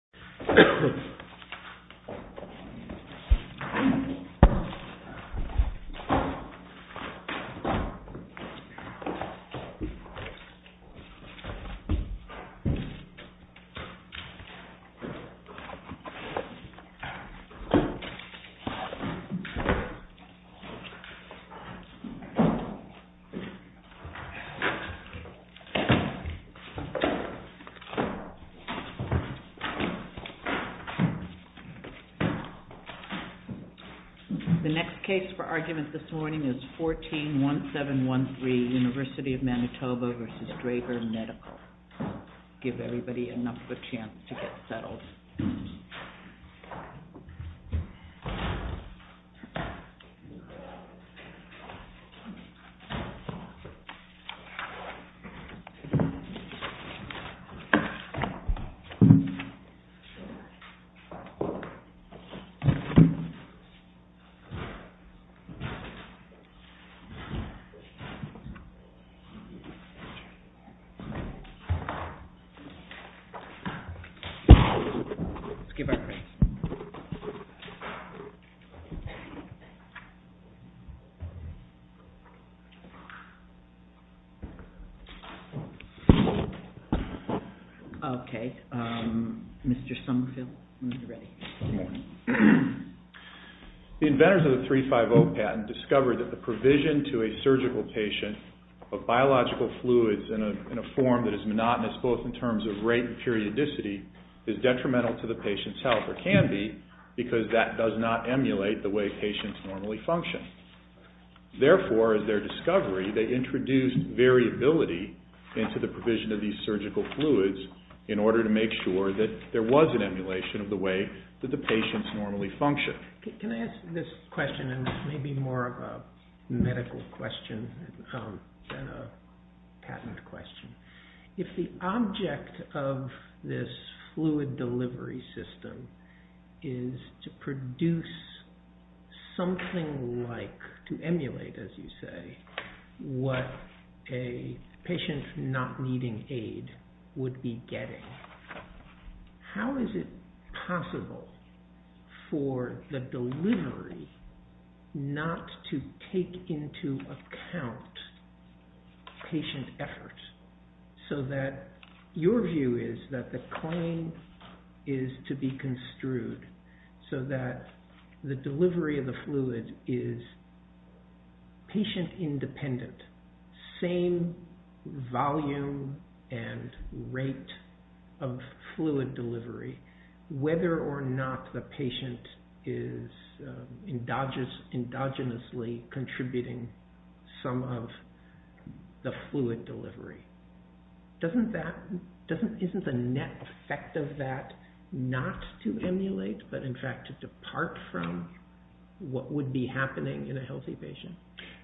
Manatoba v. Draeger Medical, Inc. The next case for argument this morning is 14-1713, University of Manitoba v. Draeger Medical. Give everybody enough of a chance to get settled. Let's give our credits. Okay. Mr. Summerfield, when you're ready. Good morning. The inventors of the 350 patent discovered that the provision to a surgical patient of biological fluids in a form that is monotonous, both in terms of rate and periodicity, is detrimental to the patient's health, or can be, because that does not emulate the way patients normally function. Therefore, as their discovery, they introduced variability into the provision of these surgical fluids in order to make sure that there was an emulation of the way that the patients normally function. Can I ask this question, and this may be more of a medical question than a patent question. If the object of this fluid delivery system is to produce something like, to emulate, as you say, what a patient not needing aid would be getting, how is it possible for the delivery not to take into account patient efforts, so that your view is that the claim is to be construed so that the delivery of the fluid is patient-independent, same volume and rate of fluid delivery, whether or not the patient is endogenously contributing some of the fluid delivery? Isn't the net effect of that not to emulate, but in fact to depart from what would be happening in a healthy patient?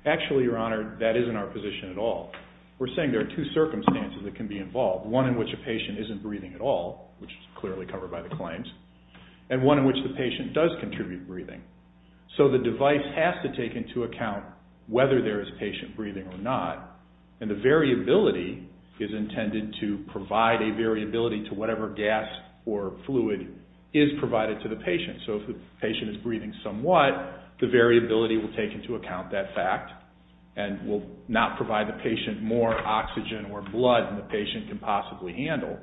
Actually, Your Honor, that isn't our position at all. We're saying there are two circumstances that can be involved, one in which a patient isn't breathing at all, which is clearly covered by the claims, and one in which the patient does contribute breathing. So the device has to take into account whether there is patient breathing or not, and the variability is intended to provide a variability to whatever gas or fluid is provided to the patient. So if the patient is breathing somewhat, the variability will take into account that fact and will not provide the patient more oxygen or blood than the patient can possibly handle.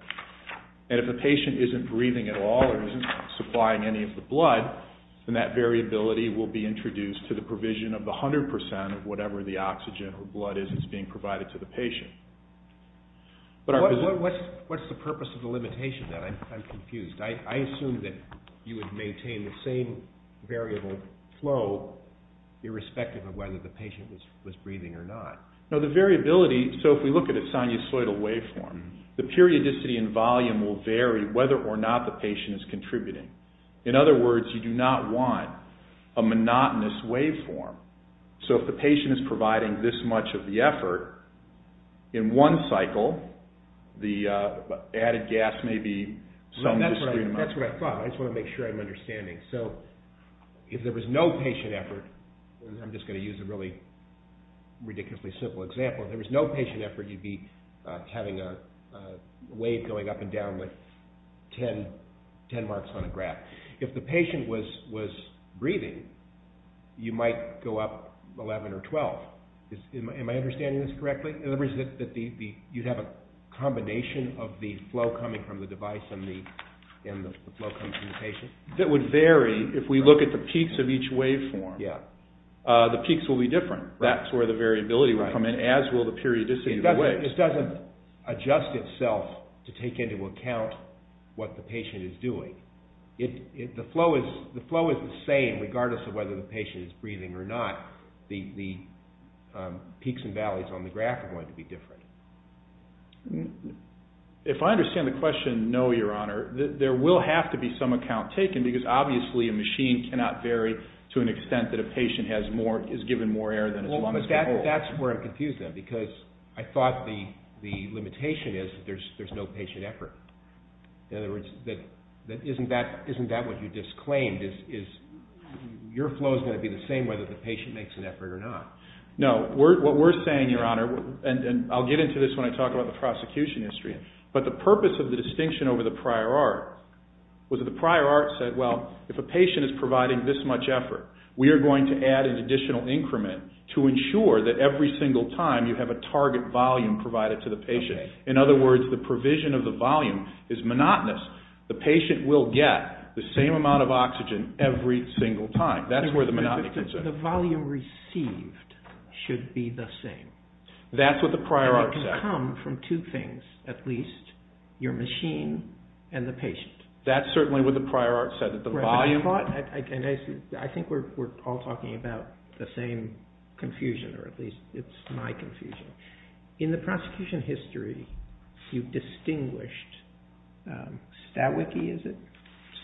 And if the patient isn't breathing at all or isn't supplying any of the blood, then that variability will be introduced to the provision of the 100% of whatever the oxygen or blood is that's being provided to the patient. What's the purpose of the limitation then? I'm confused. I assume that you would maintain the same variable flow irrespective of whether the patient was breathing or not. No, the variability, so if we look at a sinusoidal waveform, the periodicity and volume will vary whether or not the patient is contributing. In other words, you do not want a monotonous waveform. So if the patient is providing this much of the effort in one cycle, the added gas may be some discrete amount. That's what I thought. I just want to make sure I'm understanding. So if there was no patient effort, and I'm just going to use a really ridiculously simple example, if there was no patient effort, you'd be having a wave going up and down like 10 marks on a graph. If the patient was breathing, you might go up 11 or 12. Am I understanding this correctly? In other words, you'd have a combination of the flow coming from the device and the flow coming from the patient? That would vary if we look at the peaks of each waveform. Yeah. The peaks will be different. That's where the variability would come in, as will the periodicity of the waves. It doesn't adjust itself to take into account what the patient is doing. The flow is the same regardless of whether the patient is breathing or not. The peaks and valleys on the graph are going to be different. If I understand the question, no, Your Honor, there will have to be some account taken, because obviously a machine cannot vary to an extent that a patient is given more air than is supposed to hold. Well, that's where I'm confused, then, because I thought the limitation is there's no patient effort. In other words, isn't that what you disclaimed? Your flow is going to be the same whether the patient makes an effort or not. No. What we're saying, Your Honor, and I'll get into this when I talk about the prosecution history, but the purpose of the distinction over the prior art was that the prior art said, well, if a patient is providing this much effort, we are going to add an additional increment to ensure that every single time you have a target volume provided to the patient. In other words, the provision of the volume is monotonous. The patient will get the same amount of oxygen every single time. That's where the monotony comes in. The volume received should be the same. That's what the prior art said. And it can come from two things at least, your machine and the patient. That's certainly what the prior art said, that the volume. I think we're all talking about the same confusion, or at least it's my confusion. In the prosecution history, you've distinguished Stawicki, is it?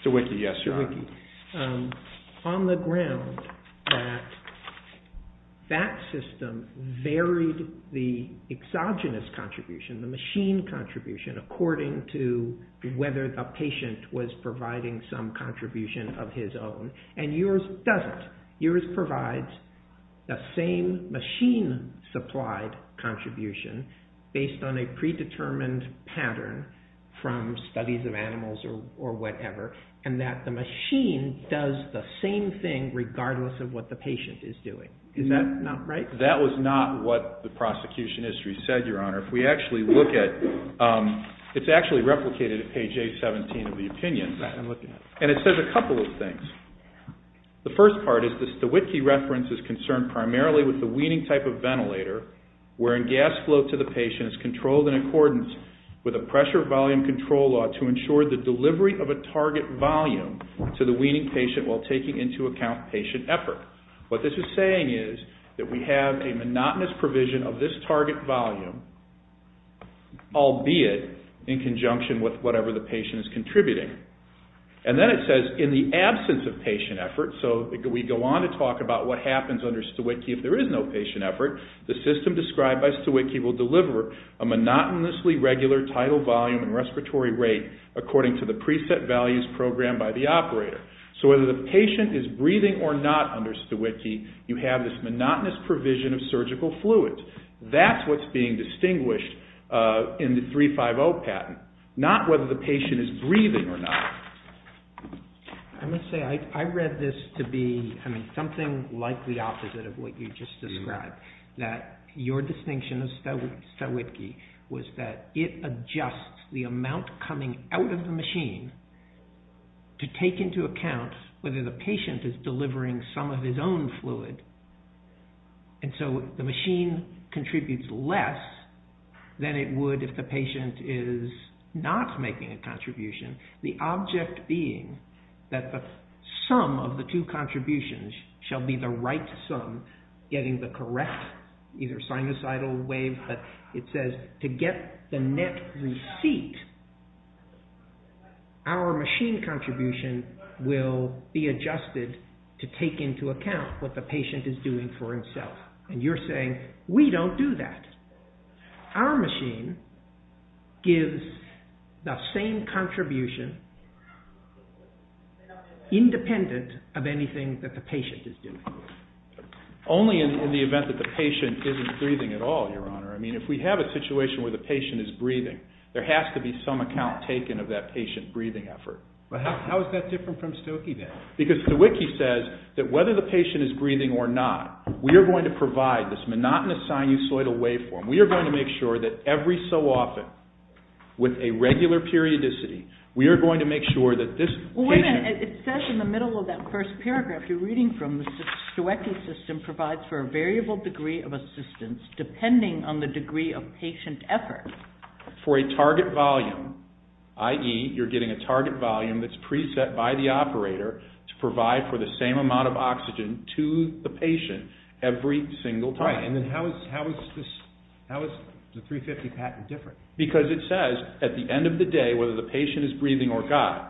Stawicki, yes, Your Honor. On the ground that that system varied the exogenous contribution, the machine contribution, according to whether the patient was providing some contribution of his own, and yours doesn't. Yours provides the same machine-supplied contribution based on a predetermined pattern from studies of animals or whatever, and that the machine does the same thing regardless of what the patient is doing. Is that not right? That was not what the prosecution history said, Your Honor. If we actually look at, it's actually replicated at page 817 of the opinion. And it says a couple of things. The first part is the Stawicki reference is concerned primarily with the weaning type of ventilator wherein gas flow to the patient is controlled in accordance with a pressure volume control law to ensure the delivery of a target volume to the weaning patient while taking into account patient effort. What this is saying is that we have a monotonous provision of this target volume, albeit in conjunction with whatever the patient is contributing. And then it says in the absence of patient effort, so we go on to talk about what happens under Stawicki if there is no patient effort, the system described by Stawicki will deliver a monotonously regular title volume and respiratory rate according to the preset values programmed by the operator. So whether the patient is breathing or not under Stawicki, you have this monotonous provision of surgical fluids. That's what's being distinguished in the 350 patent, not whether the patient is breathing or not. I must say, I read this to be, I mean, something like the opposite of what you just described, that your distinction of Stawicki was that it adjusts the amount coming out of the machine to take into account whether the patient is delivering some of his own fluid. And so the machine contributes less than it would if the patient is not making a contribution, the object being that the sum of the two contributions shall be the right sum, getting the correct either sinusoidal wave, but it says to get the net receipt, our machine contribution will be adjusted to take into account what the patient is doing for himself. And you're saying, we don't do that. Our machine gives the same contribution independent of anything that the patient is doing. Only in the event that the patient isn't breathing at all, Your Honor. I mean, if we have a situation where the patient is breathing, there has to be some account taken of that patient breathing effort. But how is that different from Stawicki then? Because Stawicki says that whether the patient is breathing or not, we are going to provide this monotonous sinusoidal waveform. We are going to make sure that every so often, with a regular periodicity, we are going to make sure that this patient... Well, wait a minute. It says in the middle of that first paragraph, you're reading from, the Stawicki system provides for a variable degree of assistance depending on the degree of patient effort. For a target volume, i.e., you're getting a target volume that's preset by the operator to provide for the same amount of oxygen to the patient every single time. Right. And then how is the 350 patent different? Because it says, at the end of the day, whether the patient is breathing or not,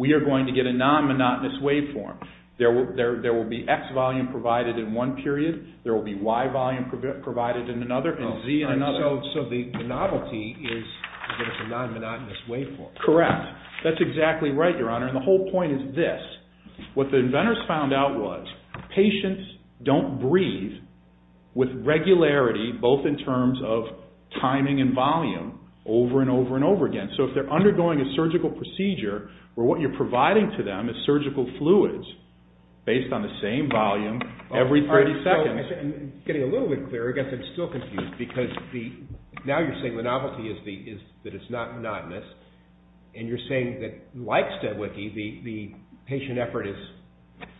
we are going to get a non-monotonous waveform. There will be X volume provided in one period, there will be Y volume provided in another, and Z in another. So the novelty is that it's a non-monotonous waveform. Correct. That's exactly right, Your Honor. And the whole point is this. What the inventors found out was patients don't breathe with regularity, both in terms of timing and volume, over and over and over again. So if they're undergoing a surgical procedure where what you're providing to them is surgical fluids based on the same volume every 30 seconds... Now you're saying the novelty is that it's not monotonous, and you're saying that, like Steadwicki, the patient effort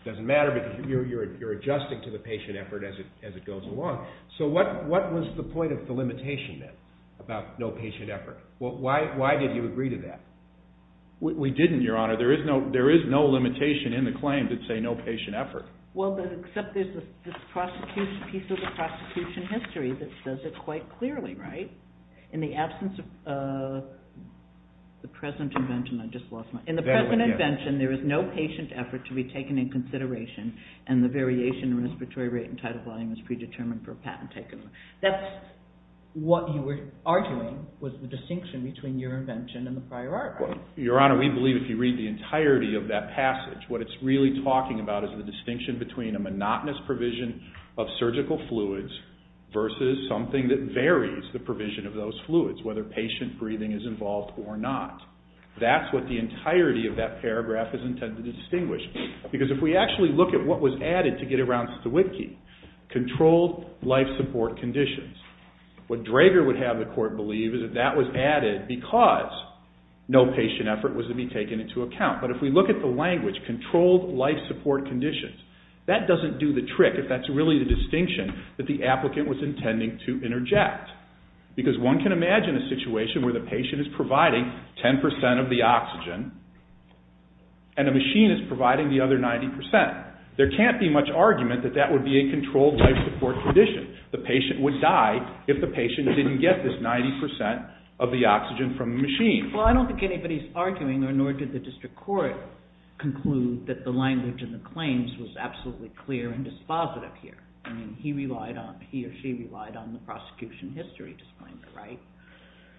doesn't matter because you're adjusting to the patient effort as it goes along. So what was the point of the limitation, then, about no patient effort? Why did you agree to that? We didn't, Your Honor. There is no limitation in the claim that say no patient effort. Well, except there's this piece of the prosecution history that says it quite clearly, right? In the absence of the present invention... I just lost my... In the present invention, there is no patient effort to be taken in consideration, and the variation in respiratory rate and tidal volume is predetermined for a patent taken. That's what you were arguing was the distinction between your invention and the prior art. Your Honor, we believe if you read the entirety of that passage, what it's really talking about is the distinction between a monotonous provision of surgical fluids versus something that varies the provision of those fluids, whether patient breathing is involved or not. That's what the entirety of that paragraph is intended to distinguish. Because if we actually look at what was added to get around Steadwicki, controlled life support conditions, what Drager would have the court believe is that that was added because no patient effort was to be taken into account. But if we look at the language, controlled life support conditions, that doesn't do the trick if that's really the distinction that the applicant was intending to interject. Because one can imagine a situation where the patient is providing 10% of the oxygen and a machine is providing the other 90%. There can't be much argument that that would be a controlled life support condition. The patient would die if the patient didn't get this 90% of the oxygen from the machine. Well, I don't think anybody's arguing, nor did the district court, conclude that the language in the claims was absolutely clear and dispositive here. I mean, he relied on, he or she relied on the prosecution history to find it right.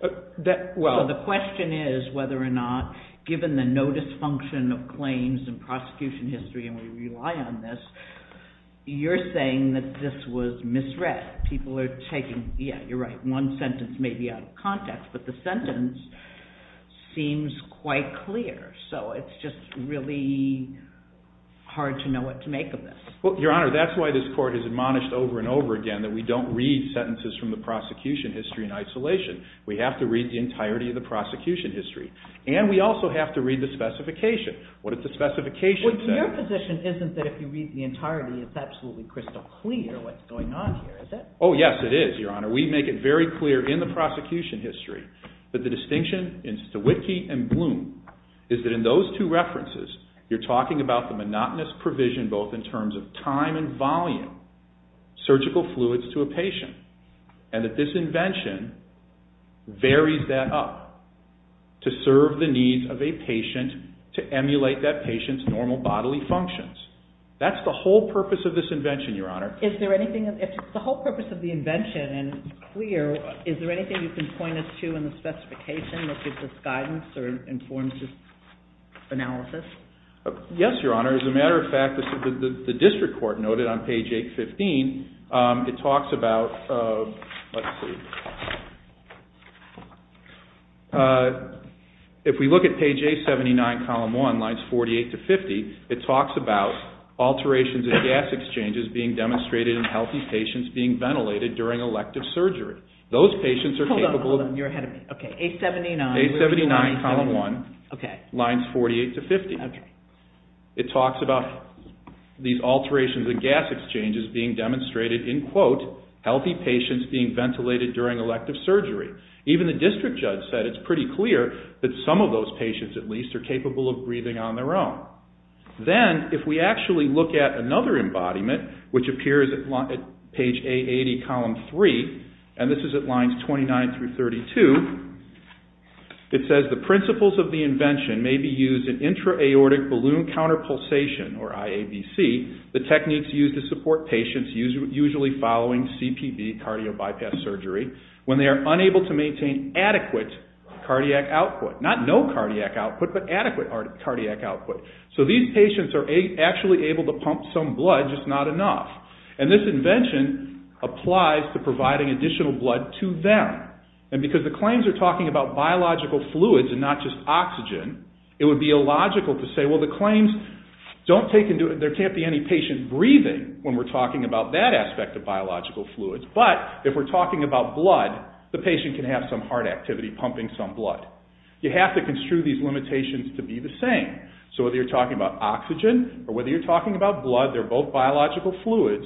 The question is whether or not, given the no dysfunction of claims and prosecution history and we rely on this, you're saying that this was misread. People are taking, yeah, you're right, one sentence may be out of context, but the sentence seems quite clear. So it's just really hard to know what to make of this. Well, Your Honor, that's why this court has admonished over and over again that we don't read sentences from the prosecution history in isolation. We have to read the entirety of the prosecution history. And we also have to read the specification. What does the specification say? Well, your position isn't that if you read the entirety, it's absolutely crystal clear what's going on here, is it? Oh, yes, it is, Your Honor. We make it very clear in the prosecution history that the distinction in Stewitke and Bloom is that in those two references, you're talking about the monotonous provision both in terms of time and volume, surgical fluids to a patient. And that this invention varies that up to serve the needs of a patient to emulate that patient's normal bodily functions. That's the whole purpose of this invention, Your Honor. The whole purpose of the invention is clear. Is there anything you can point us to in the specification that gives us guidance or informs this analysis? Yes, Your Honor. As a matter of fact, the district court noted on page 815, it talks about, let's see. If we look at page 879, column 1, lines 48 to 50, it talks about alterations and gas exchanges being demonstrated in healthy patients being ventilated during elective surgery. Those patients are capable of... Hold on, hold on. You're ahead of me. Okay, 879. 879, column 1, lines 48 to 50. Okay. It talks about these alterations and gas exchanges being demonstrated in, quote, healthy patients being ventilated during elective surgery. Even the district judge said it's pretty clear that some of those patients, at least, are capable of breathing on their own. Then, if we actually look at another embodiment, which appears at page 880, column 3, and this is at lines 29 through 32, it says the principles of the invention may be used in intra-aortic balloon counterpulsation, or IABC, the techniques used to support patients usually following CPB, cardio bypass surgery, when they are unable to maintain adequate cardiac output. Not no cardiac output, but adequate cardiac output. So these patients are actually able to pump some blood, just not enough. And this invention applies to providing additional blood to them. And because the claims are talking about biological fluids and not just oxygen, it would be illogical to say, well, the claims don't take into... There can't be any patient breathing when we're talking about that aspect of biological fluids, but if we're talking about blood, the patient can have some heart activity pumping some blood. You have to construe these limitations to be the same. So whether you're talking about oxygen or whether you're talking about blood, they're both biological fluids,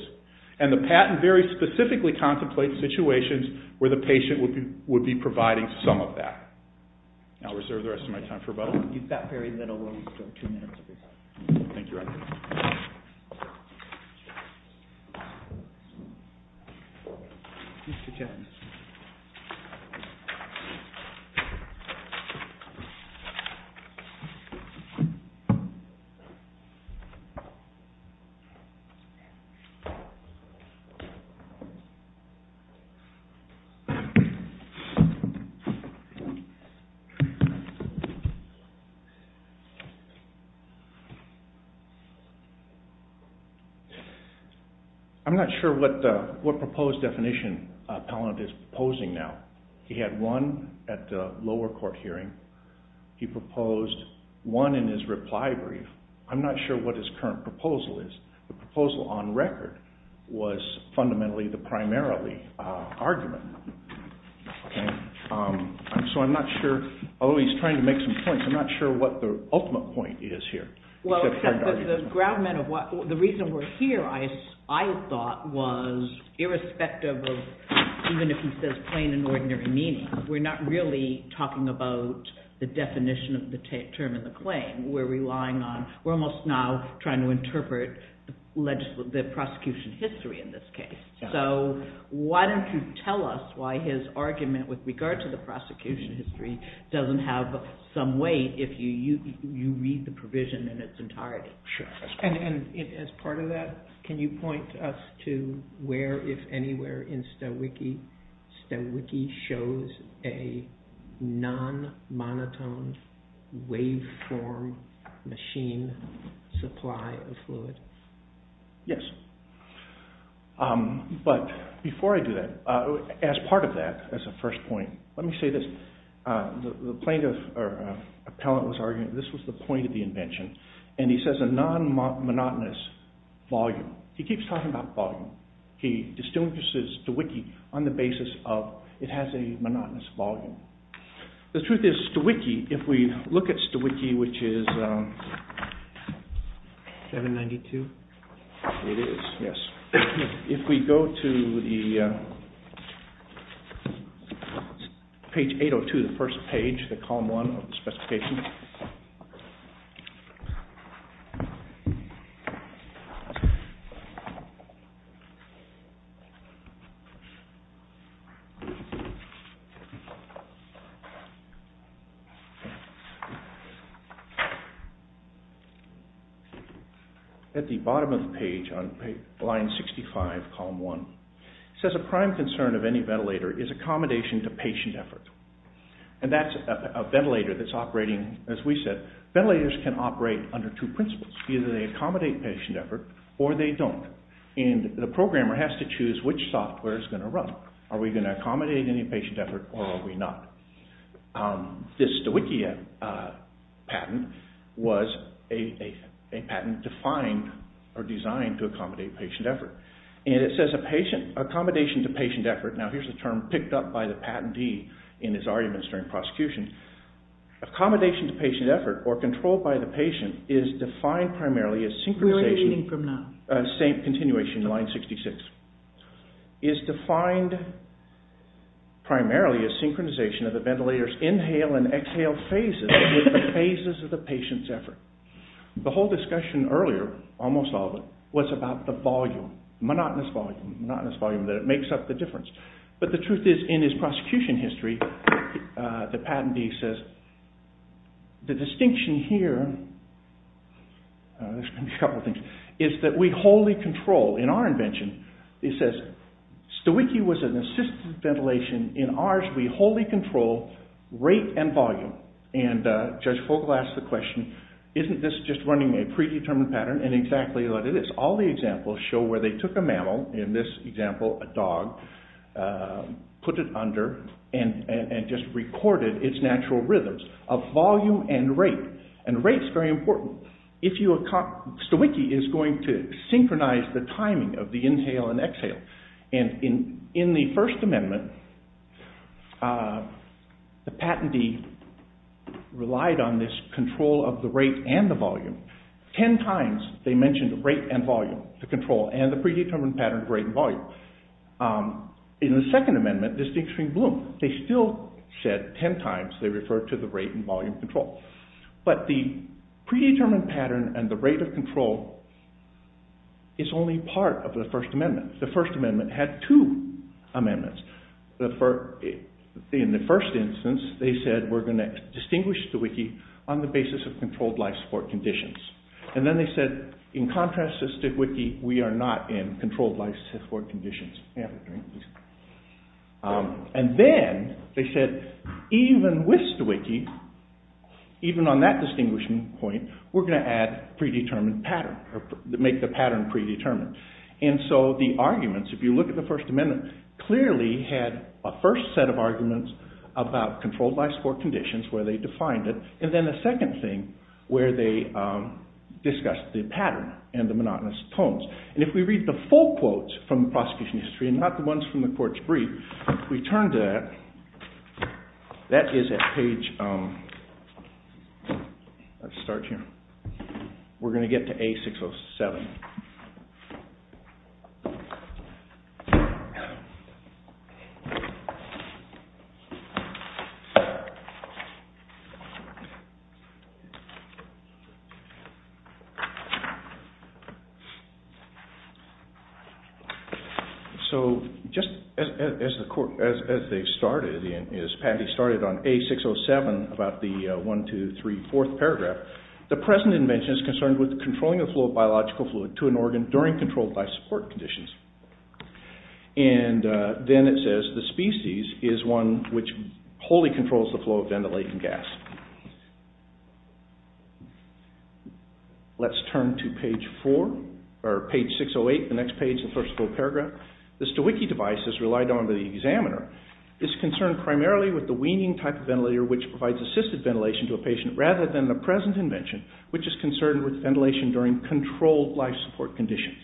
and the patent very specifically contemplates situations where the patient would be providing some of that. I'll reserve the rest of my time for rebuttal. You've got very little. We'll go two minutes at a time. Thank you. I'm not sure what proposed definition Palin is proposing now. He had one at the lower court hearing. He proposed one in his reply brief. I'm not sure what his current proposal is. The proposal on record was fundamentally the primarily argument. So I'm not sure, although he's trying to make some points, I'm not sure what the ultimate point is here. The reason we're here, I thought, was irrespective of, even if he says plain and ordinary meaning, we're not really talking about the definition of the term in the claim. We're relying on, we're almost now trying to interpret the prosecution history in this case. So why don't you tell us why his argument, with regard to the prosecution history, doesn't have some weight if you read the provision in its entirety. Sure. And as part of that, can you point us to where, if anywhere, in Stowiki, Stowiki shows a non-monotone waveform machine supply of fluid? Yes. But before I do that, as part of that, as a first point, let me say this. The plaintiff or appellant was arguing this was the point of the invention. And he says a non-monotonous volume. He keeps talking about volume. He distinguishes Stowiki on the basis of it has a monotonous volume. The truth is, Stowiki, if we look at Stowiki, which is 792. It is. Yes. If we go to the page 802, the first page, the column 1 of the specification. At the bottom of the page, on line 65, column 1, it says a prime concern of any ventilator is accommodation to patient effort. And that's a ventilator that's operating, as we said, ventilators can operate under two principles. Either they accommodate patient effort or they don't. And the programmer has to choose which software is going to run. Are we going to accommodate any patient effort or are we not? This Stowiki patent was a patent defined or designed to accommodate patient effort. And it says accommodation to patient effort. Now, here's the term picked up by the patentee in his arguments during prosecution. Accommodation to patient effort, or control by the patient, is defined primarily as synchronization. We're editing from now. Same continuation, line 66. Is defined primarily as synchronization of the ventilator's inhale and exhale phases with the phases of the patient's effort. The whole discussion earlier, almost all of it, was about the volume. Monotonous volume. Monotonous volume that makes up the difference. But the truth is, in his prosecution history, the patentee says, the distinction here, there's going to be a couple of things, is that we wholly control, in our invention, it says Stowiki was an assisted ventilation. In ours, we wholly control rate and volume. And Judge Fogle asked the question, isn't this just running a predetermined pattern? And exactly what it is. All the examples show where they took a mammal, in this example a dog, put it under and just recorded its natural rhythms of volume and rate. And rate's very important. Stowiki is going to synchronize the timing of the inhale and exhale. And in the First Amendment, the patentee relied on this control of the rate and the volume. Ten times they mentioned rate and volume, the control, and the predetermined pattern of rate and volume. In the Second Amendment, the distinction bloomed. They still said ten times they referred to the rate and volume control. But the predetermined pattern and the rate of control is only part of the First Amendment. The First Amendment had two amendments. In the first instance, they said we're going to distinguish Stowiki on the basis of controlled life support conditions. And then they said, in contrast to Stowiki, we are not in controlled life support conditions. And then they said, even with Stowiki, even on that distinguishing point, we're going to make the pattern predetermined. And so the arguments, if you look at the First Amendment, clearly had a first set of arguments about controlled life support conditions where they defined it. And then the second thing where they discussed the pattern and the monotonous tones. And if we read the full quotes from the prosecution history, and not the ones from the court's brief, if we turn to that, that is at page, let's start here. We're going to get to A607. So just as they started, as Patty started on A607, about the 1, 2, 3, 4th paragraph, the present invention is concerned with controlling the flow of biological fluid to an organ during controlled life support conditions. And then it says the species is one which wholly controls the flow of ventilating gas. Let's turn to page 4, or page 608, the next page, the first full paragraph. The Stowiki device is relied on by the examiner. It's concerned primarily with the weaning type of ventilator which provides assisted ventilation to a patient rather than the present invention, which is concerned with ventilation during controlled life support conditions.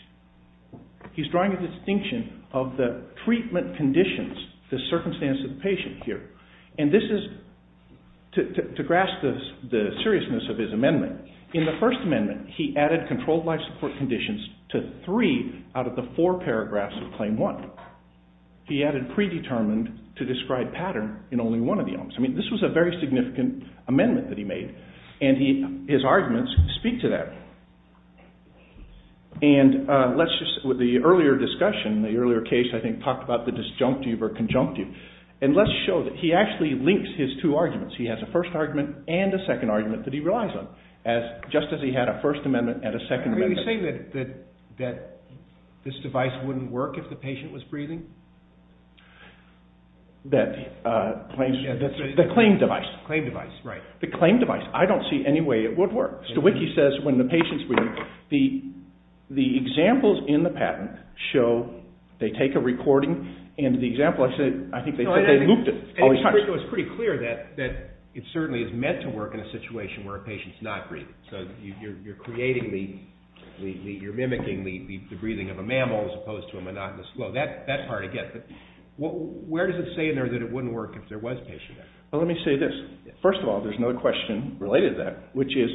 He's drawing a distinction of the treatment conditions, the circumstance of the patient here. And this is, to grasp the seriousness of his amendment, in the First Amendment, he added controlled life support conditions to three out of the four paragraphs of Claim 1. He added predetermined to describe pattern in only one of the elements. I mean, this was a very significant amendment that he made, and his arguments speak to that. And let's just, with the earlier discussion, the earlier case, I think, talked about the disjunctive or conjunctive. And let's show that he actually links his two arguments. He has a first argument and a second argument that he relies on, just as he had a First Amendment and a Second Amendment. Can we say that this device wouldn't work if the patient was breathing? That the claim device. The claim device, right. The claim device, I don't see any way it would work. Stowiki says when the patient's breathing, the examples in the patent show they take a recording, and the example I said, I think they looped it all these times. It was pretty clear that it certainly is meant to work in a situation where a patient's not breathing. So you're creating the, you're mimicking the breathing of a mammal as opposed to a monotonous flow. That part I get, but where does it say in there that it wouldn't work if there was patient effort? Well, let me say this. First of all, there's another question related to that, which is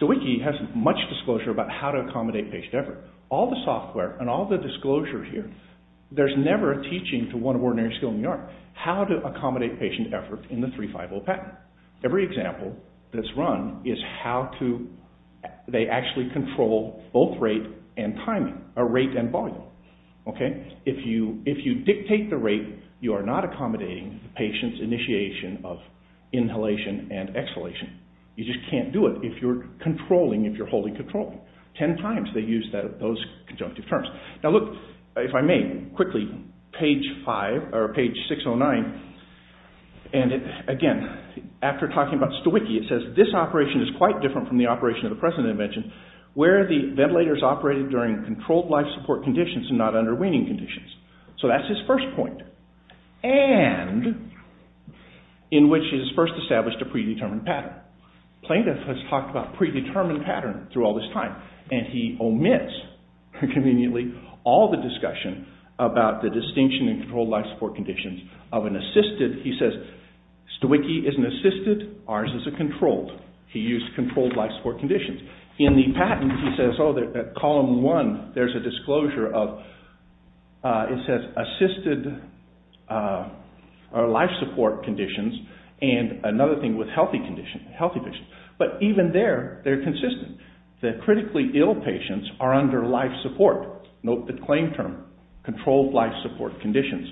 Stowiki has much disclosure about how to accommodate patient effort. All the software and all the disclosure here, there's never a teaching to one of ordinary skill in the art how to accommodate patient effort in the 350 patent. Every example that's run is how to, they actually control both rate and volume. If you dictate the rate, you are not accommodating the patient's initiation of inhalation and exhalation. You just can't do it if you're controlling, if you're holding controlling. Ten times they use those conjunctive terms. Now look, if I may, quickly, page five, or page 609, and again, after talking about Stowiki, it says this operation is quite different from the operation of the present invention where the ventilators operated during controlled life support conditions and not under weaning conditions. So that's his first point. And in which he has first established a predetermined pattern. Plaintiff has talked about predetermined pattern through all this time. And he omits, conveniently, all the discussion about the distinction in controlled life support conditions of an assisted, he says, Stowiki is an assisted, ours is a controlled. He used controlled life support conditions. In the patent, he says, oh, column one, there's a disclosure of, it says, assisted life support conditions and another thing with healthy conditions. But even there, they're consistent. The critically ill patients are under life support. Note the claim term. Controlled life support conditions.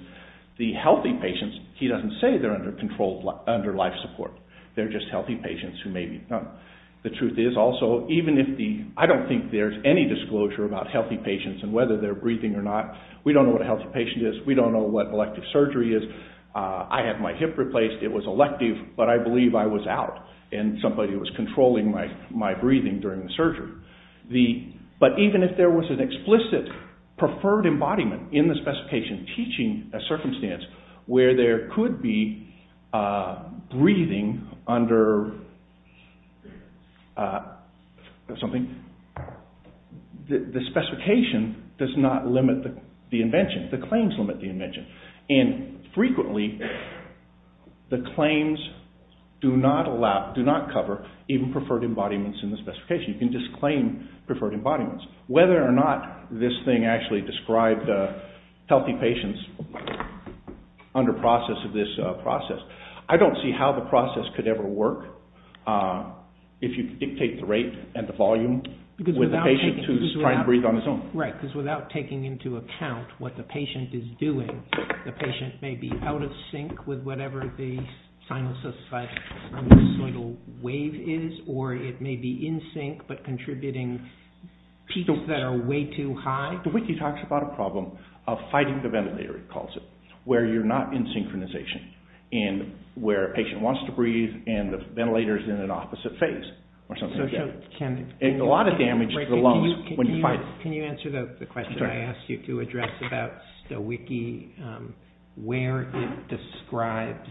The healthy patients, he doesn't say they're under life support. They're just healthy patients who may be. The truth is, also, even if the, I don't think there's any disclosure about healthy patients and whether they're breathing or not. We don't know what a healthy patient is. We don't know what elective surgery is. I had my hip replaced. It was elective, but I believe I was out and somebody was controlling my breathing during the surgery. But even if there was an explicit preferred embodiment in the specification teaching a circumstance where there could be breathing under something, the specification does not limit the invention. The claims limit the invention. Frequently, the claims do not cover even preferred embodiments in the specification. You can just claim preferred embodiments. Whether or not this thing actually described healthy patients under process of this process, I don't see how the process could ever work if you dictate the rate and the volume with the patient who's trying to breathe on his own. Right, because without taking into account what the patient is doing, the patient may be out of sync with whatever the sinusoidal wave is, or it may be in sync, but contributing peaks that are way too high. The wiki talks about a problem of fighting the ventilator, it calls it, where you're not in synchronization and where a patient wants to breathe and the ventilator's in an opposite phase or something like that. And a lot of damage to the lungs when you fight it. Can you answer the question I asked you to address about the wiki, where it describes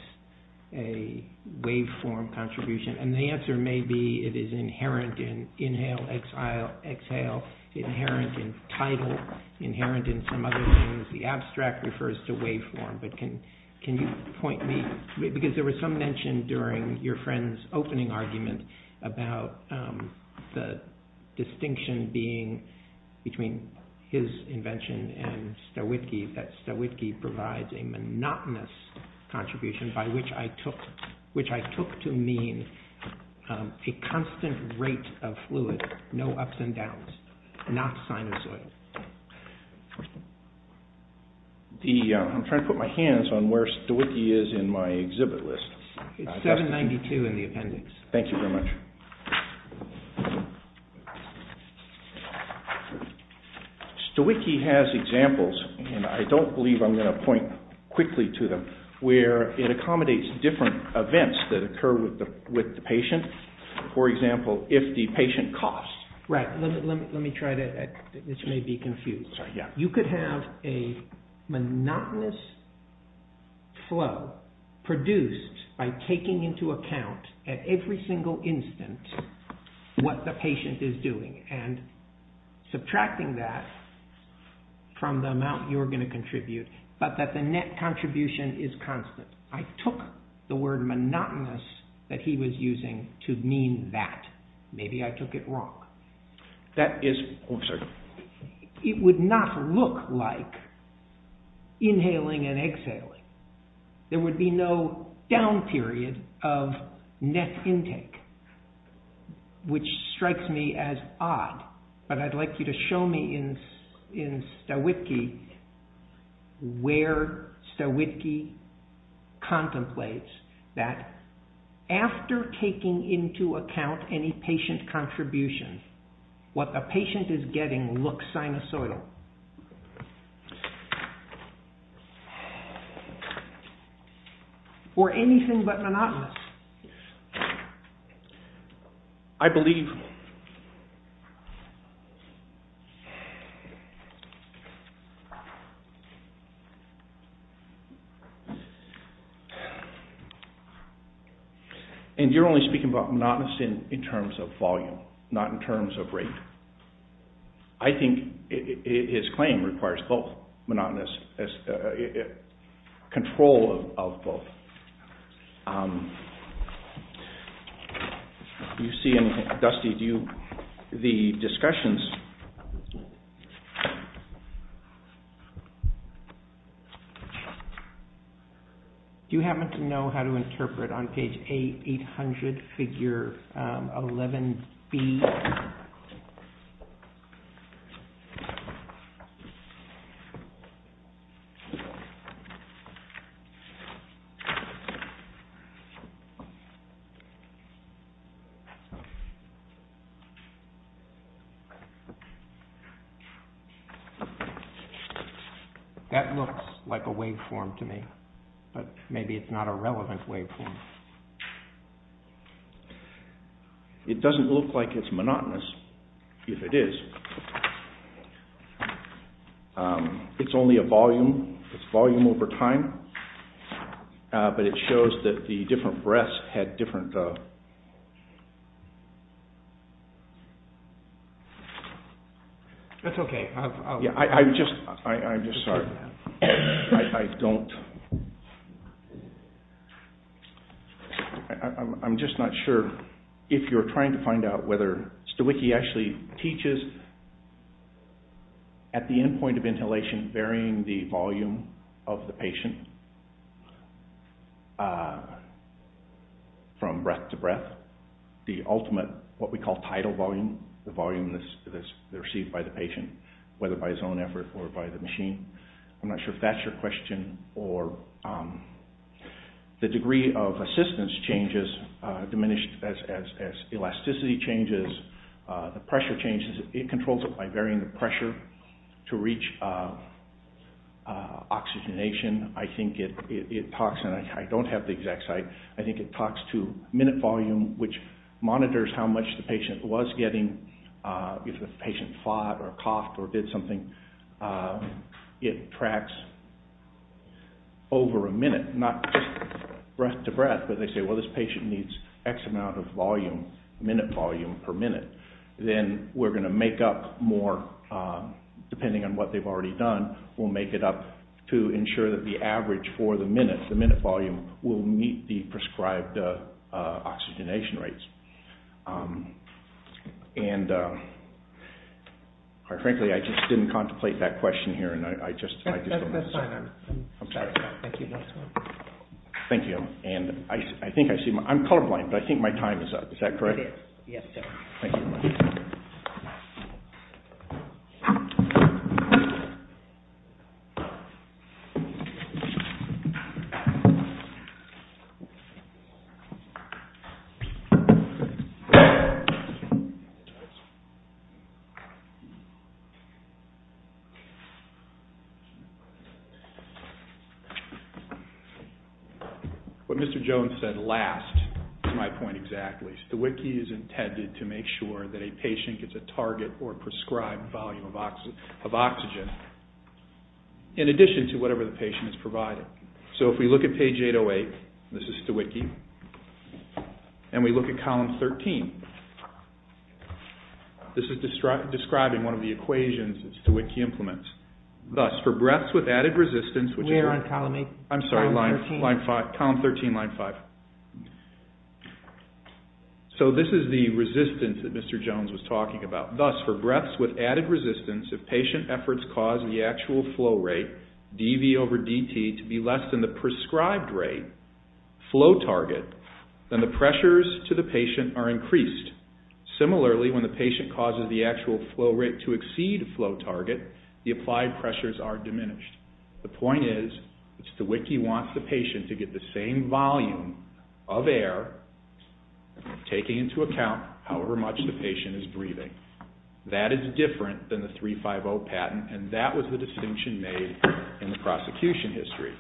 a waveform contribution? And the answer may be it is inherent in inhale, exhale, inherent in tidal, inherent in some other things. The abstract refers to waveform. But can you point me, because there was some mention during your friend's opening argument about the distinction being between his invention and Stawitki, that Stawitki provides a monotonous contribution by which I took to mean a constant rate of fluid, no ups and downs, not sinusoidal. I'm trying to put my hands on where Stawitki is in my exhibit list. It's 792 in the appendix. Thank you very much. Stawitki has examples, and I don't believe I'm going to point quickly to them, where it accommodates different events that occur with the patient. For example, if the patient coughs. Right, let me try that. This may be confusing. You could have a monotonous flow produced by taking into account at every single instant what the patient is doing and subtracting that from the amount you're going to contribute, but that the net contribution is constant. I took the word monotonous that he was using to mean that. Maybe I took it wrong. It would not look like inhaling and exhaling. There would be no down period of net intake, which strikes me as odd, but I'd like you to show me in Stawitki where Stawitki contemplates that after taking into account any patient contribution, what the patient is getting looks sinusoidal. Or anything but monotonous. I believe... And you're only speaking about monotonous in terms of volume, not in terms of rate. I think his claim requires both monotonous, control of both. Do you see, Dusty, the discussions... Do you happen to know how to interpret on page 800, figure 11B? That looks like a waveform to me, but maybe it's not a relevant waveform. It doesn't look like it's monotonous, if it is. It's only a volume. It's volume over time, but it shows that the different breaths had different... That's okay. I'm just sorry. I don't... I'm just not sure if you're trying to find out whether Stawitki actually teaches at the end point of inhalation, varying the volume of the patient from breath to breath, the ultimate, what we call tidal volume, the volume that's received by the patient, whether by his own effort or by the machine. I'm not sure if that's your question. The degree of assistance changes, diminished as elasticity changes, the pressure changes. It controls it by varying the pressure to reach oxygenation. I think it talks... I don't have the exact site. I think it talks to minute volume, which monitors how much the patient was getting, if the patient fought or coughed or did something. It tracks over a minute, not just breath to breath, but they say, well, this patient needs X amount of volume, minute volume per minute. Then we're going to make up more, depending on what they've already done, we'll make it up to ensure that the average for the minute, the minute volume, will meet the prescribed oxygenation rates. And quite frankly, I just didn't contemplate that question here. That's fine. Thank you. Thank you. I'm colorblind, but I think my time is up. Is that correct? Yes, sir. Thank you. Thank you. What Mr. Jones said last is my point exactly. STWIKI is intended to make sure that a patient gets a target or prescribed volume of oxygen, in addition to whatever the patient has provided. So if we look at page 808, this is STWIKI, and we look at column 13. This is describing one of the equations that STWIKI implements. Thus, for breaths with added resistance, which is... Where on column eight? I'm sorry, line five, column 13, line five. So this is the resistance that Mr. Jones was talking about. Thus, for breaths with added resistance, if patient efforts cause the actual flow rate, DV over DT, to be less than the prescribed rate, flow target, then the pressures to the patient are increased. Similarly, when the patient causes the actual flow rate to exceed flow target, the applied pressures are diminished. The point is that STWIKI wants the patient to get the same volume of air, taking into account however much the patient is breathing. That is different than the 350 patent, and that was the distinction made in the prosecution history.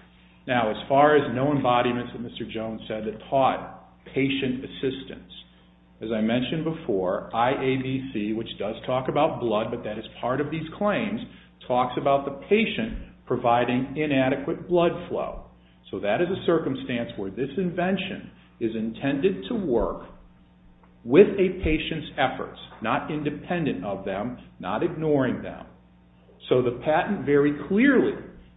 Now, as far as no embodiments that Mr. Jones said that taught patient assistance, as I mentioned before, IABC, which does talk about blood, but that is part of these claims, talks about the patient providing inadequate blood flow. So that is a circumstance where this invention is intended to work with a patient's efforts, not independent of them, not ignoring them. So the patent very clearly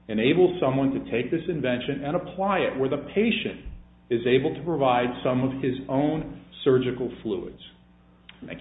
enables someone to take this invention and apply it where the patient is able to provide some of his own surgical fluids. Thank you.